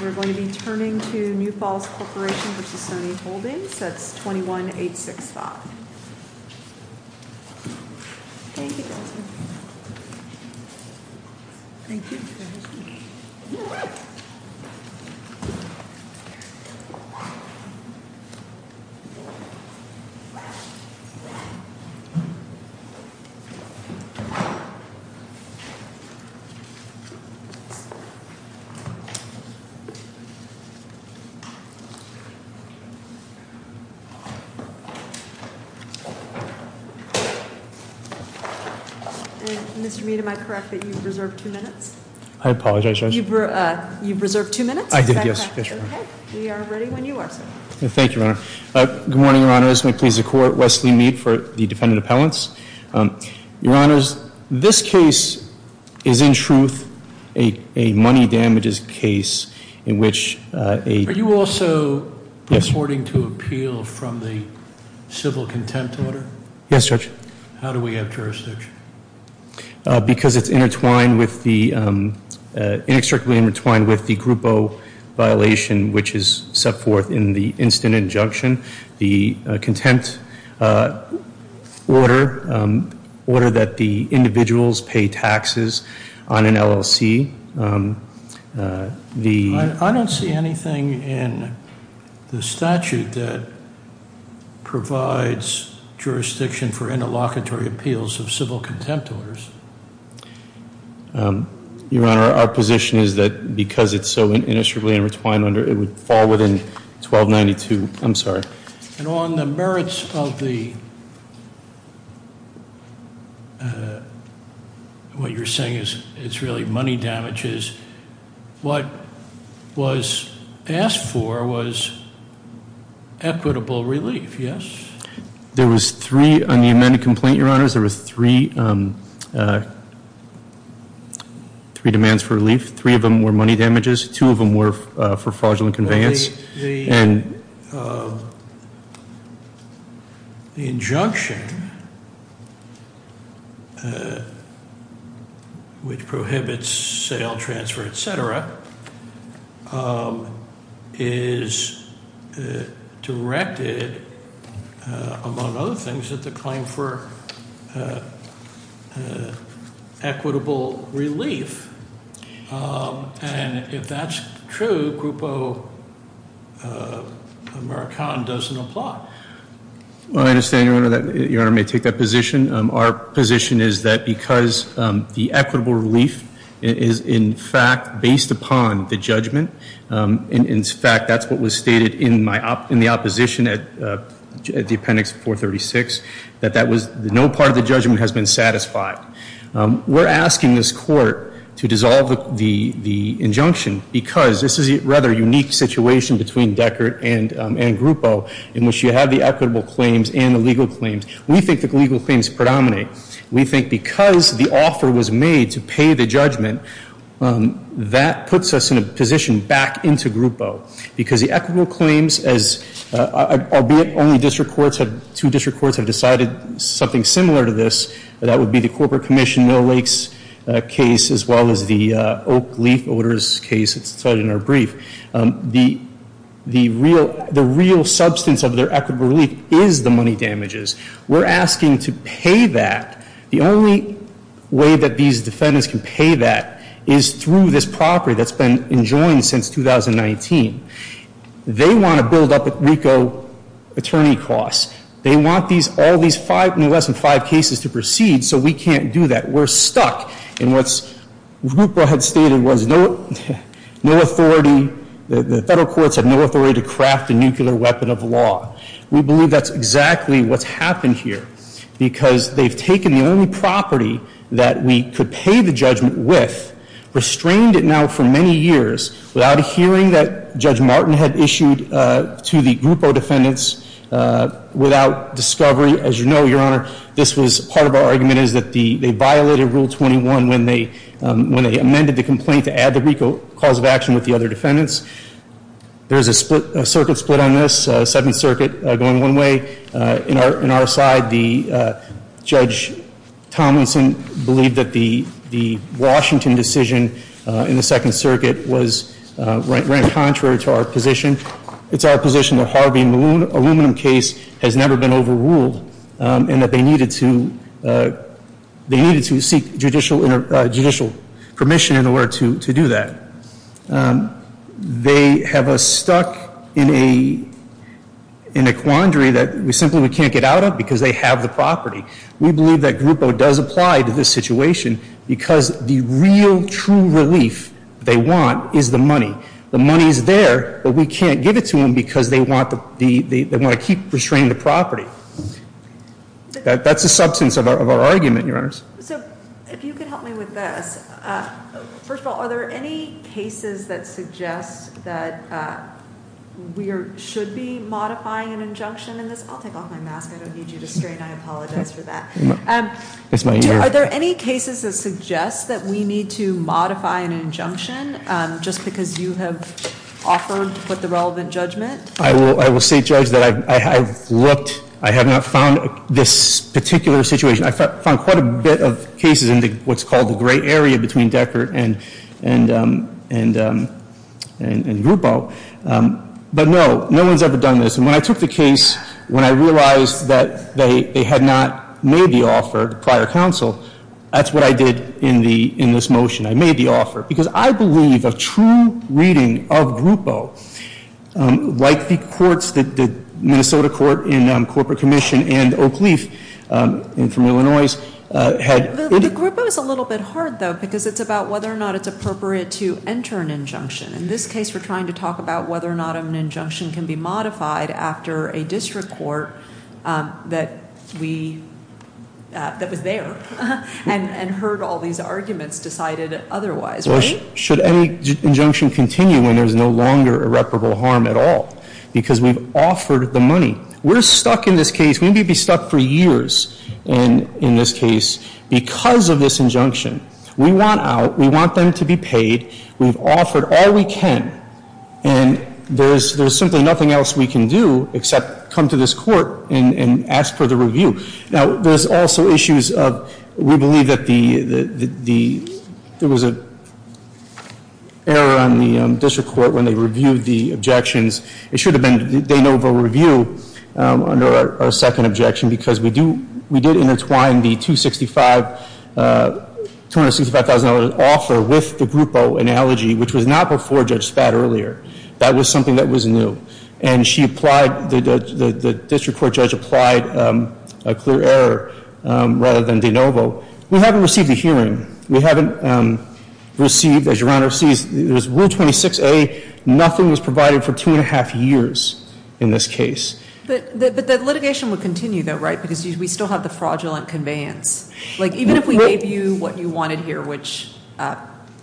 We're going to be turning to New Falls Corporation v. Soni Holdings. That's 21865. Mr. Meade, am I correct that you've reserved 2 minutes? I apologize, Your Honor. You've reserved 2 minutes? I did, yes. We are ready when you are, sir. Thank you, Your Honor. Good morning, Your Honors. I'm pleased to court Wesley Meade for the defendant appellants. Your Honors, this case is in truth a money damages case in which a... Are you also purporting to appeal from the civil contempt order? Yes, Judge. How do we have jurisdiction? Because it's inextricably intertwined with the Grupo violation which is set forth in the instant injunction. The contempt order that the individuals pay taxes on an LLC. I don't see anything in the statute that provides jurisdiction for interlocutory appeals of civil contempt orders. Your Honor, our position is that because it's so inextricably intertwined, it would fall within 1292. I'm sorry. And on the merits of the... What you're saying is it's really money damages. What was asked for was equitable relief, yes? There was three on the amended complaint, Your Honors. There was three demands for relief. Three of them were money damages. Two of them were for fraudulent conveyance. The injunction which prohibits sale, transfer, et cetera, is directed, among other things, at the claim for equitable relief. And if that's true, Grupo Americana doesn't apply. I understand, Your Honor, that Your Honor may take that position. Our position is that because the equitable relief is, in fact, based upon the judgment, in fact, that's what was stated in the opposition at the appendix 436, that no part of the judgment has been satisfied. We're asking this Court to dissolve the injunction because this is a rather unique situation between Deckert and Grupo in which you have the equitable claims and the legal claims. We think the legal claims predominate. We think because the offer was made to pay the judgment, that puts us in a position back into Grupo because the equitable claims, albeit only two district courts have decided something similar to this, that would be the Corporate Commission Mill Lake's case as well as the Oak Leaf Odors case that's cited in our brief. The real substance of their equitable relief is the money damages. We're asking to pay that. The only way that these defendants can pay that is through this property that's been enjoined since 2019. They want to build up at RICO attorney costs. They want all these less than five cases to proceed, so we can't do that. We're stuck in what Grupo had stated was no authority. The federal courts have no authority to craft a nuclear weapon of law. We believe that's exactly what's happened here because they've taken the only property that we could pay the judgment with, restrained it now for many years without a hearing that Judge Martin had issued to the Grupo defendants without discovery. As you know, Your Honor, part of our argument is that they violated Rule 21 when they amended the complaint to add the RICO cause of action with the other defendants. There's a circuit split on this, Seventh Circuit going one way. In our side, Judge Tomlinson believed that the Washington decision in the Second Circuit ran contrary to our position. It's our position that Harvey Malone aluminum case has never been overruled and that they needed to seek judicial permission in order to do that. They have us stuck in a quandary that we simply can't get out of because they have the property. We believe that Grupo does apply to this situation because the real true relief they want is the money. The money is there, but we can't give it to them because they want to keep restraining the property. That's the substance of our argument, Your Honors. So if you could help me with this. First of all, are there any cases that suggest that we should be modifying an injunction in this? I'll take off my mask. I don't need you to strain. I apologize for that. Are there any cases that suggest that we need to modify an injunction just because you have offered with the relevant judgment? I will say, Judge, that I have looked. I have not found this particular situation. I found quite a bit of cases in what's called the gray area between Deckert and Grupo. But no, no one's ever done this. And when I took the case, when I realized that they had not made the offer to prior counsel, that's what I did in this motion. I made the offer. Because I believe a true reading of Grupo, like the courts, the Minnesota Court and Corporate Commission and Oak Leaf from Illinois, had- The Grupo is a little bit hard, though, because it's about whether or not it's appropriate to enter an injunction. In this case, we're trying to talk about whether or not an injunction can be modified after a district court that we- that was there and heard all these arguments decided otherwise, right? Should any injunction continue when there's no longer irreparable harm at all? Because we've offered the money. We're stuck in this case. We may be stuck for years in this case because of this injunction. We want out. We want them to be paid. We've offered all we can. And there's simply nothing else we can do except come to this court and ask for the review. Now, there's also issues of- we believe that the- there was an error on the district court when they reviewed the objections. It should have been De Novo Review under our second objection because we do- we did intertwine the 265- $265,000 offer with the Grupo analogy, which was not before Judge Spad earlier. That was something that was new. And she applied- the district court judge applied a clear error rather than De Novo. We haven't received a hearing. We haven't received, as Your Honor sees, there's Rule 26A. Nothing was provided for two and a half years in this case. But the litigation would continue, though, right? Because we still have the fraudulent conveyance. Like, even if we gave you what you wanted here, which,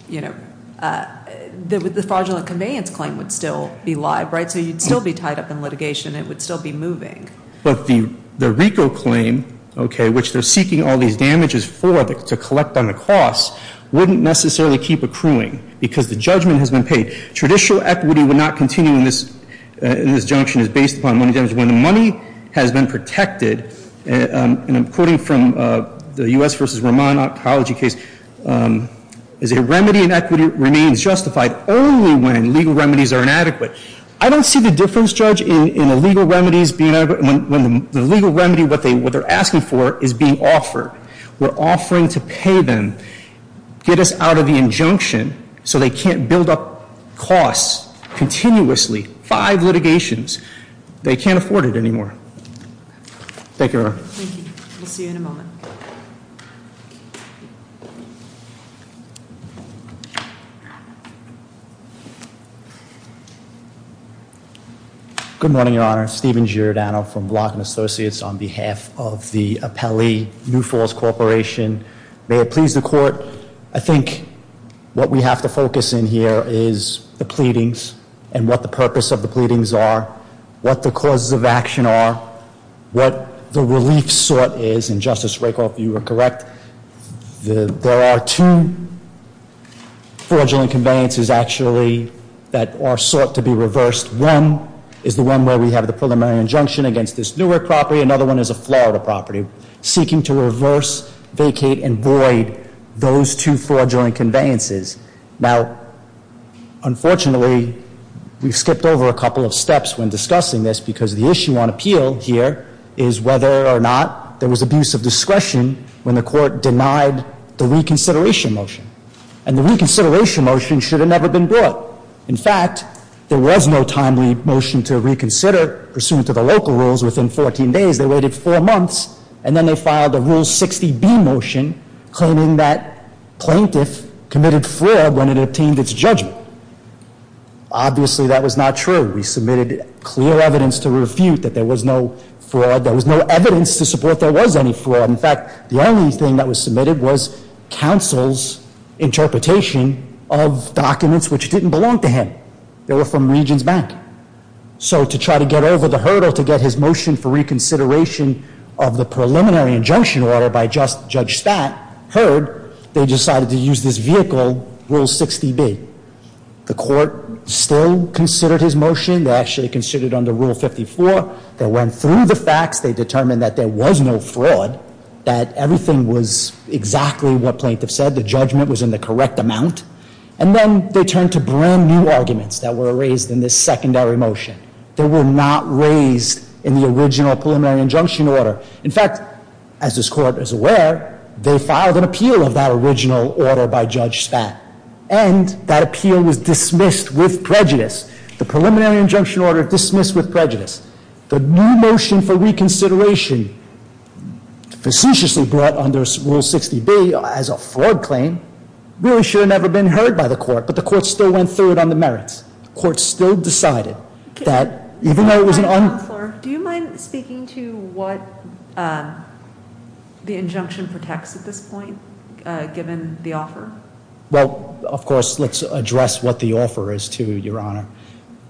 you know, the fraudulent conveyance claim would still be live, right? So you'd still be tied up in litigation. It would still be moving. But the RICO claim, okay, which they're seeking all these damages for to collect on the cost, wouldn't necessarily keep accruing because the judgment has been paid. Traditional equity would not continue in this junction. It's based upon money damage. When the money has been protected, and I'm quoting from the U.S. v. Ramon oncology case, is a remedy in equity remains justified only when legal remedies are inadequate. I don't see the difference, Judge, in the legal remedies being adequate when the legal remedy, what they're asking for, is being offered. We're offering to pay them, get us out of the injunction so they can't build up costs continuously. Five litigations. They can't afford it anymore. Thank you, Your Honor. Thank you. We'll see you in a moment. Thank you. Good morning, Your Honor. Steven Giordano from Block & Associates on behalf of the appellee, New Falls Corporation. May it please the court, I think what we have to focus in here is the pleadings and what the purpose of the pleadings are, what the causes of action are, what the relief sort is, and Justice Rakoff, you were correct. There are two fraudulent conveyances actually that are sought to be reversed. One is the one where we have the preliminary injunction against this Newark property. Another one is a Florida property seeking to reverse, vacate, and void those two fraudulent conveyances. Now, unfortunately, we've skipped over a couple of steps when discussing this because the issue on appeal here is whether or not there was abuse of discretion when the court denied the reconsideration motion. And the reconsideration motion should have never been brought. In fact, there was no timely motion to reconsider pursuant to the local rules within 14 days. They waited four months, and then they filed a Rule 60B motion claiming that plaintiff committed fraud when it obtained its judgment. Obviously, that was not true. We submitted clear evidence to refute that there was no fraud. There was no evidence to support there was any fraud. In fact, the only thing that was submitted was counsel's interpretation of documents which didn't belong to him. They were from Regents Bank. So to try to get over the hurdle to get his motion for reconsideration of the preliminary injunction order by Judge Statt heard, they decided to use this vehicle, Rule 60B. The court still considered his motion. They actually considered it under Rule 54. They went through the facts. They determined that there was no fraud, that everything was exactly what plaintiff said. The judgment was in the correct amount. And then they turned to brand new arguments that were raised in this secondary motion. They were not raised in the original preliminary injunction order. In fact, as this court is aware, they filed an appeal of that original order by Judge Statt. And that appeal was dismissed with prejudice. The preliminary injunction order dismissed with prejudice. The new motion for reconsideration, facetiously brought under Rule 60B as a fraud claim, really should have never been heard by the court. But the court still went through it on the merits. The court still decided that even though it was an un- Do you mind speaking to what the injunction protects at this point, given the offer? Well, of course, let's address what the offer is to Your Honor.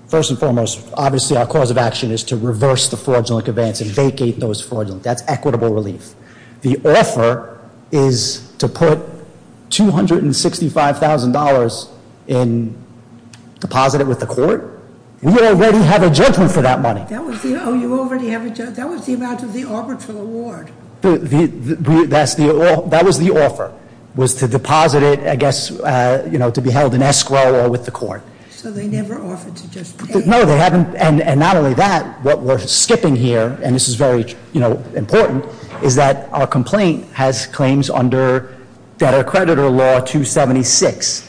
First and foremost, obviously, our cause of action is to reverse the fraudulent events and vacate those fraudulent. That's equitable relief. The offer is to put $265,000 and deposit it with the court. We already have a judgment for that money. That was the- Oh, you already have a- That was the amount of the arbitral award. That was the offer, was to deposit it, I guess, to be held in escrow or with the court. So they never offered to just pay? No, they haven't. And not only that, what we're skipping here, and this is very important, is that our complaint has claims under Debtor-Creditor Law 276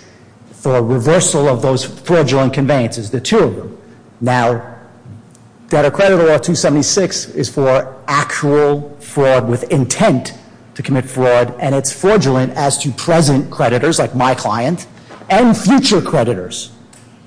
for reversal of those fraudulent conveyances, the two of them. Now, Debtor-Creditor Law 276 is for actual fraud with intent to commit fraud, and it's fraudulent as to present creditors, like my client, and future creditors.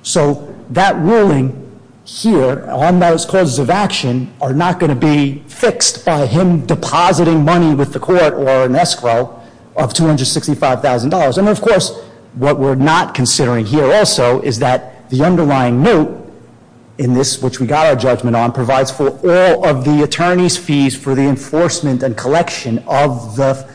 So that ruling here on those causes of action are not going to be fixed by him depositing money with the court or an escrow of $265,000. And, of course, what we're not considering here also is that the underlying note in this, which we got our judgment on, provides for all of the attorney's fees for the enforcement and collection of the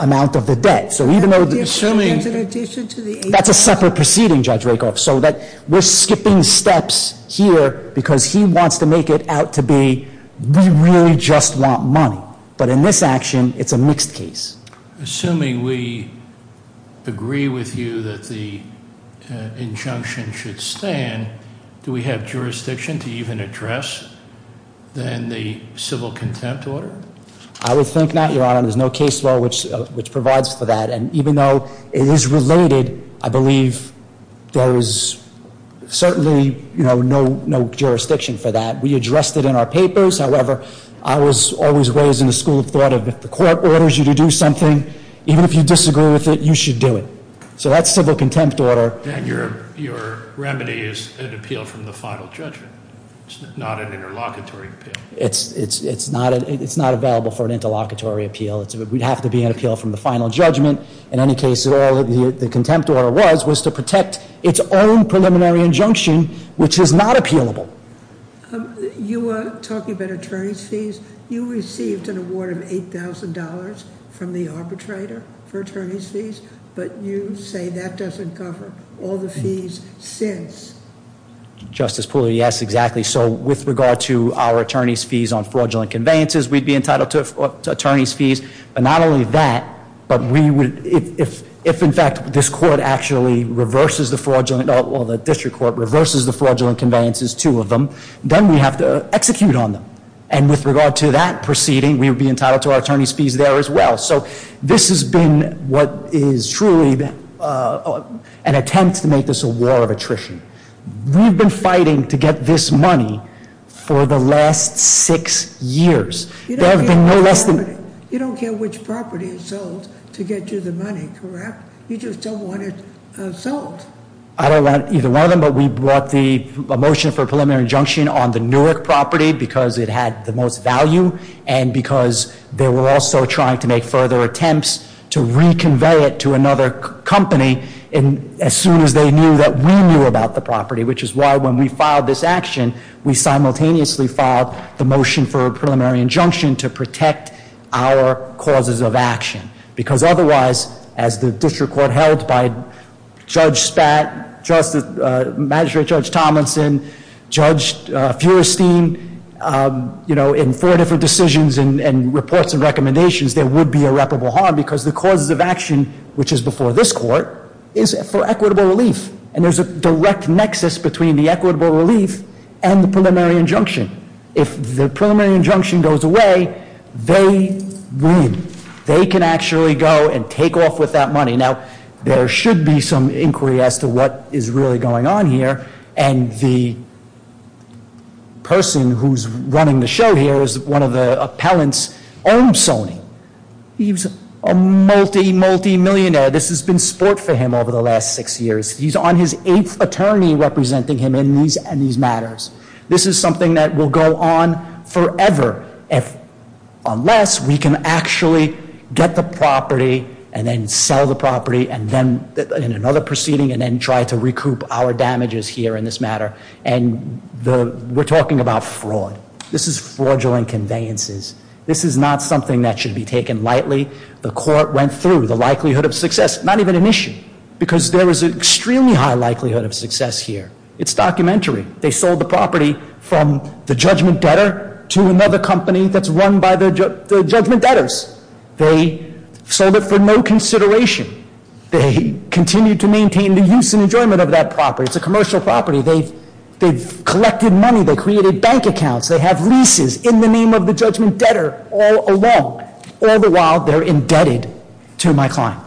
amount of the debt. So even though- Assuming- There's an addition to the- That's a separate proceeding, Judge Rakoff, so that we're skipping steps here because he wants to make it out to be we really just want money. But in this action, it's a mixed case. Assuming we agree with you that the injunction should stand, do we have jurisdiction to even address then the civil contempt order? I would think not, Your Honor. There's no case law which provides for that. And even though it is related, I believe there is certainly no jurisdiction for that. We addressed it in our papers. However, I was always raised in a school of thought of if the court orders you to do something, even if you disagree with it, you should do it. So that's civil contempt order. And your remedy is an appeal from the final judgment. It's not an interlocutory appeal. It's not available for an interlocutory appeal. It would have to be an appeal from the final judgment. In any case at all, the contempt order was to protect its own preliminary injunction, which is not appealable. You were talking about attorney's fees. You received an award of $8,000 from the arbitrator for attorney's fees. But you say that doesn't cover all the fees since. Justice Pooler, yes, exactly. So with regard to our attorney's fees on fraudulent conveyances, we'd be entitled to attorney's fees. But not only that, but if in fact this court actually reverses the fraudulent, or the district court reverses the fraudulent conveyances, two of them, then we have to execute on them. And with regard to that proceeding, we would be entitled to our attorney's fees there as well. So this has been what is truly an attempt to make this a war of attrition. We've been fighting to get this money for the last six years. There have been no less than- You don't care which property is sold to get you the money, correct? You just don't want it sold. I don't want either one of them, but we brought the motion for preliminary injunction on the Newark property because it had the most value. And because they were also trying to make further attempts to reconvey it to another company as soon as they knew that we knew about the property. Which is why when we filed this action, we simultaneously filed the motion for a preliminary injunction to protect our causes of action. Because otherwise, as the district court held by Judge Spat, Magistrate Judge Tomlinson, Judge Feuerstein, in four different decisions and reports and recommendations, there would be irreparable harm. Because the causes of action, which is before this court, is for equitable relief. And there's a direct nexus between the equitable relief and the preliminary injunction. If the preliminary injunction goes away, they win. They can actually go and take off with that money. Now, there should be some inquiry as to what is really going on here. And the person who's running the show here is one of the appellants, Ohm Sony. He's a multi, multimillionaire. This has been sport for him over the last six years. He's on his eighth attorney representing him in these matters. This is something that will go on forever unless we can actually get the property and then sell the property in another proceeding and then try to recoup our damages here in this matter. And we're talking about fraud. This is fraudulent conveyances. This is not something that should be taken lightly. The court went through the likelihood of success. Not even an issue. Because there is an extremely high likelihood of success here. It's documentary. They sold the property from the judgment debtor to another company that's run by the judgment debtors. They sold it for no consideration. They continue to maintain the use and enjoyment of that property. It's a commercial property. They've collected money. They created bank accounts. They have leases in the name of the judgment debtor all along. All the while, they're indebted to my client.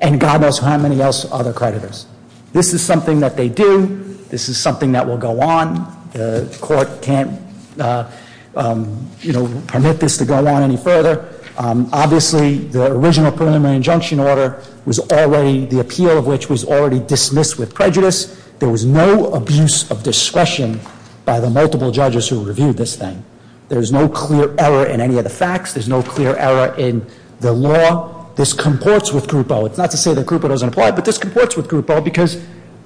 And God knows how many other creditors. This is something that they do. This is something that will go on. The court can't, you know, permit this to go on any further. Obviously, the original preliminary injunction order was already, the appeal of which was already dismissed with prejudice. There was no abuse of discretion by the multiple judges who reviewed this thing. There's no clear error in any of the facts. There's no clear error in the law. This comports with Group O. It's not to say that Group O doesn't apply, but this comports with Group O because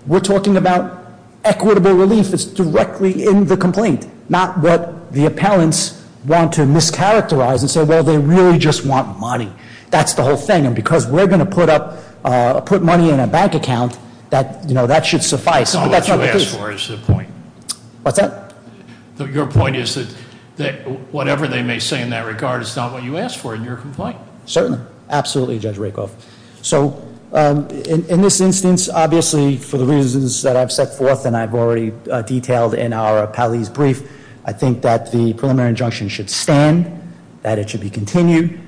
we're talking about equitable relief. It's directly in the complaint. Not what the appellants want to mischaracterize and say, well, they really just want money. That's the whole thing. And because we're going to put money in a bank account, that should suffice. That's not the case. Your point is that whatever they may say in that regard is not what you asked for in your complaint. Certainly. Absolutely, Judge Rakoff. So in this instance, obviously, for the reasons that I've set forth and I've already detailed in our appellee's brief, I think that the preliminary injunction should stand, that it should be continued.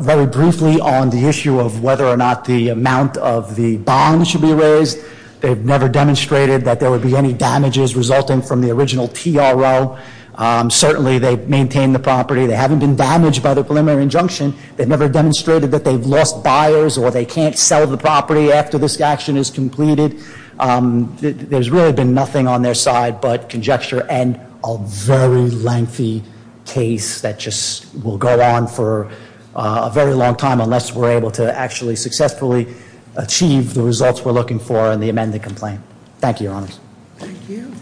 Very briefly on the issue of whether or not the amount of the bond should be raised, they've never demonstrated that there would be any damages resulting from the original TRO. Certainly, they've maintained the property. They haven't been damaged by the preliminary injunction. They've never demonstrated that they've lost buyers or they can't sell the property after this action is completed. There's really been nothing on their side but conjecture and a very lengthy case that just will go on for a very long time unless we're able to actually successfully achieve the results we're looking for in the amended complaint. Thank you, Your Honors. Thank you.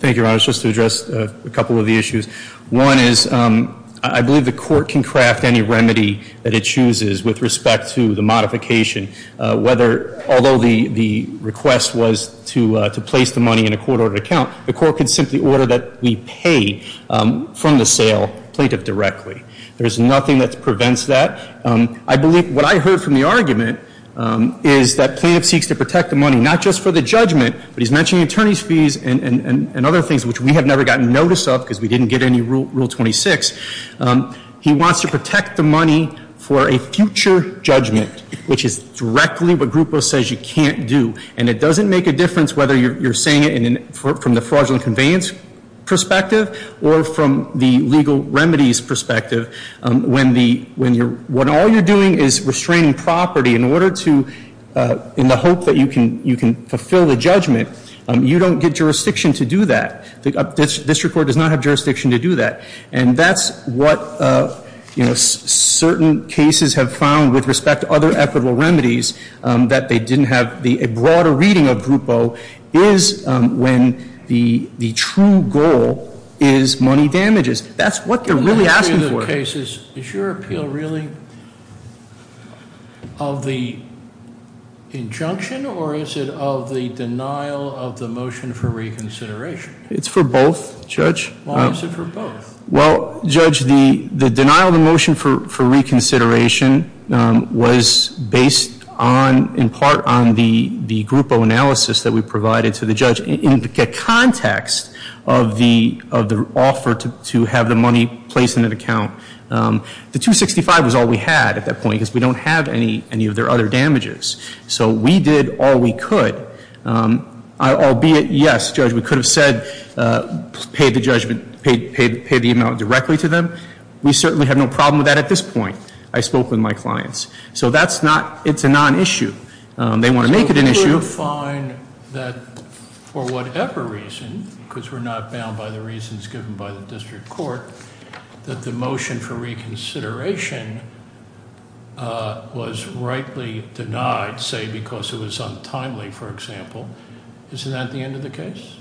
Thank you, Your Honors. Just to address a couple of the issues. One is I believe the court can craft any remedy that it chooses with respect to the modification. Although the request was to place the money in a court-ordered account, the court could simply order that we pay from the sale plaintiff directly. There's nothing that prevents that. I believe what I heard from the argument is that plaintiff seeks to protect the money not just for the judgment, but he's mentioning attorney's fees and other things which we have never gotten notice of because we didn't get any Rule 26. He wants to protect the money for a future judgment, which is directly what Grupo says you can't do. And it doesn't make a difference whether you're saying it from the fraudulent conveyance perspective or from the legal remedies perspective. When all you're doing is restraining property in the hope that you can fulfill the judgment, you don't get jurisdiction to do that. The district court does not have jurisdiction to do that. And that's what certain cases have found with respect to other equitable remedies that they didn't have. A broader reading of Grupo is when the true goal is money damages. That's what they're really asking for. Is your appeal really of the injunction or is it of the denial of the motion for reconsideration? It's for both, Judge. Why is it for both? Well, Judge, the denial of the motion for reconsideration was based in part on the Grupo analysis that we provided to the judge. In the context of the offer to have the money placed in an account, the 265 was all we had at that point because we don't have any of their other damages. So we did all we could. Albeit, yes, Judge, we could have said pay the judgment, pay the amount directly to them. We certainly have no problem with that at this point. I spoke with my clients. So that's not, it's a non-issue. They want to make it an issue. You define that for whatever reason, because we're not bound by the reasons given by the district court, that the motion for reconsideration was rightly denied, say, because it was untimely, for example. Isn't that the end of the case?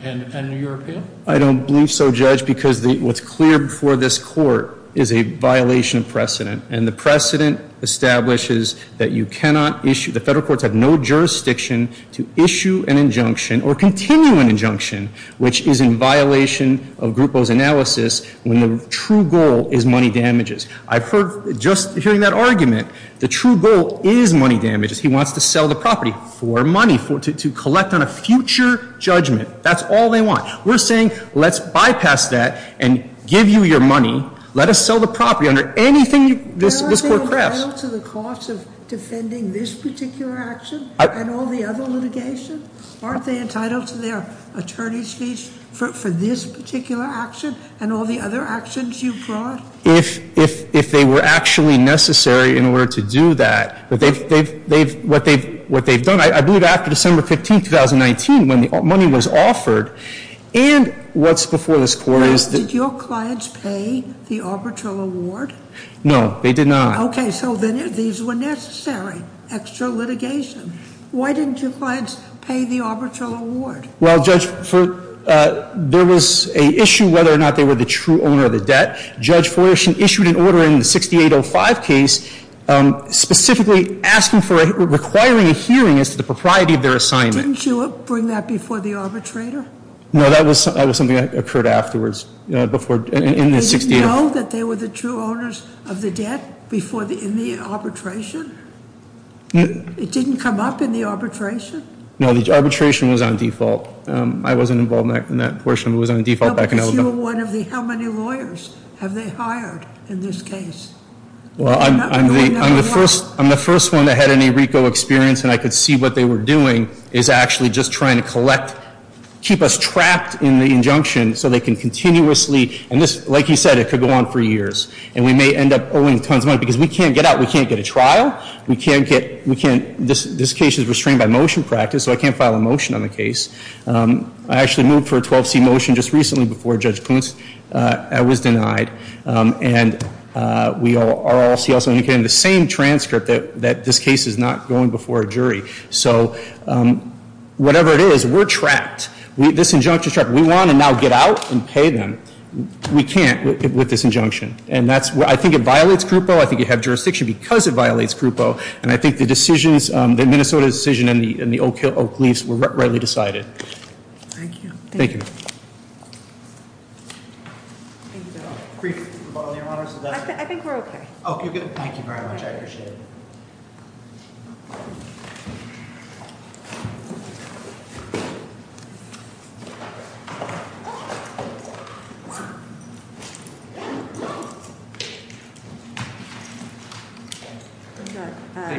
And your appeal? I don't believe so, Judge, because what's clear before this court is a violation of precedent. And the precedent establishes that you cannot issue, the federal courts have no jurisdiction to issue an injunction or continue an injunction which is in violation of Grupo's analysis when the true goal is money damages. I've heard, just hearing that argument, the true goal is money damages. He wants to sell the property for money, to collect on a future judgment. That's all they want. We're saying let's bypass that and give you your money. Let us sell the property under anything this court crafts. Aren't they entitled to the cost of defending this particular action and all the other litigation? Aren't they entitled to their attorney's fees for this particular action and all the other actions you brought? If they were actually necessary in order to do that, what they've done, I believe after December 15, 2019 when the money was offered, and what's before this court is that did your clients pay the arbitral award? No, they did not. Okay, so then these were necessary, extra litigation. Why didn't your clients pay the arbitral award? Well, Judge, there was an issue whether or not they were the true owner of the debt. Judge Foyerson issued an order in the 6805 case specifically asking for, requiring a hearing as to the propriety of their assignment. Didn't you bring that before the arbitrator? No, that was something that occurred afterwards in the 6805. They didn't know that they were the true owners of the debt in the arbitration? It didn't come up in the arbitration? No, the arbitration was on default. I wasn't involved in that portion. It was on default back in Alabama. No, because you were one of the how many lawyers have they hired in this case? Well, I'm the first one that had any RICO experience, and I could see what they were doing is actually just trying to collect, keep us trapped in the injunction so they can continuously, and this, like you said, it could go on for years, and we may end up owing tons of money because we can't get out. We can't get a trial. We can't get, we can't, this case is restrained by motion practice, so I can't file a motion on the case. I actually moved for a 12C motion just recently before Judge Kuntz. I was denied, and we are all CLC, and we're getting the same transcript that this case is not going before a jury. So whatever it is, we're trapped. This injunction is trapped. We want to now get out and pay them. We can't with this injunction, and that's, I think it violates group O. I think you have jurisdiction because it violates group O, and I think the decisions, the Minnesota decision and the Oak Leafs were rightly decided. Thank you. Thank you. I think we're okay. Okay, good. Thank you very much. I appreciate it.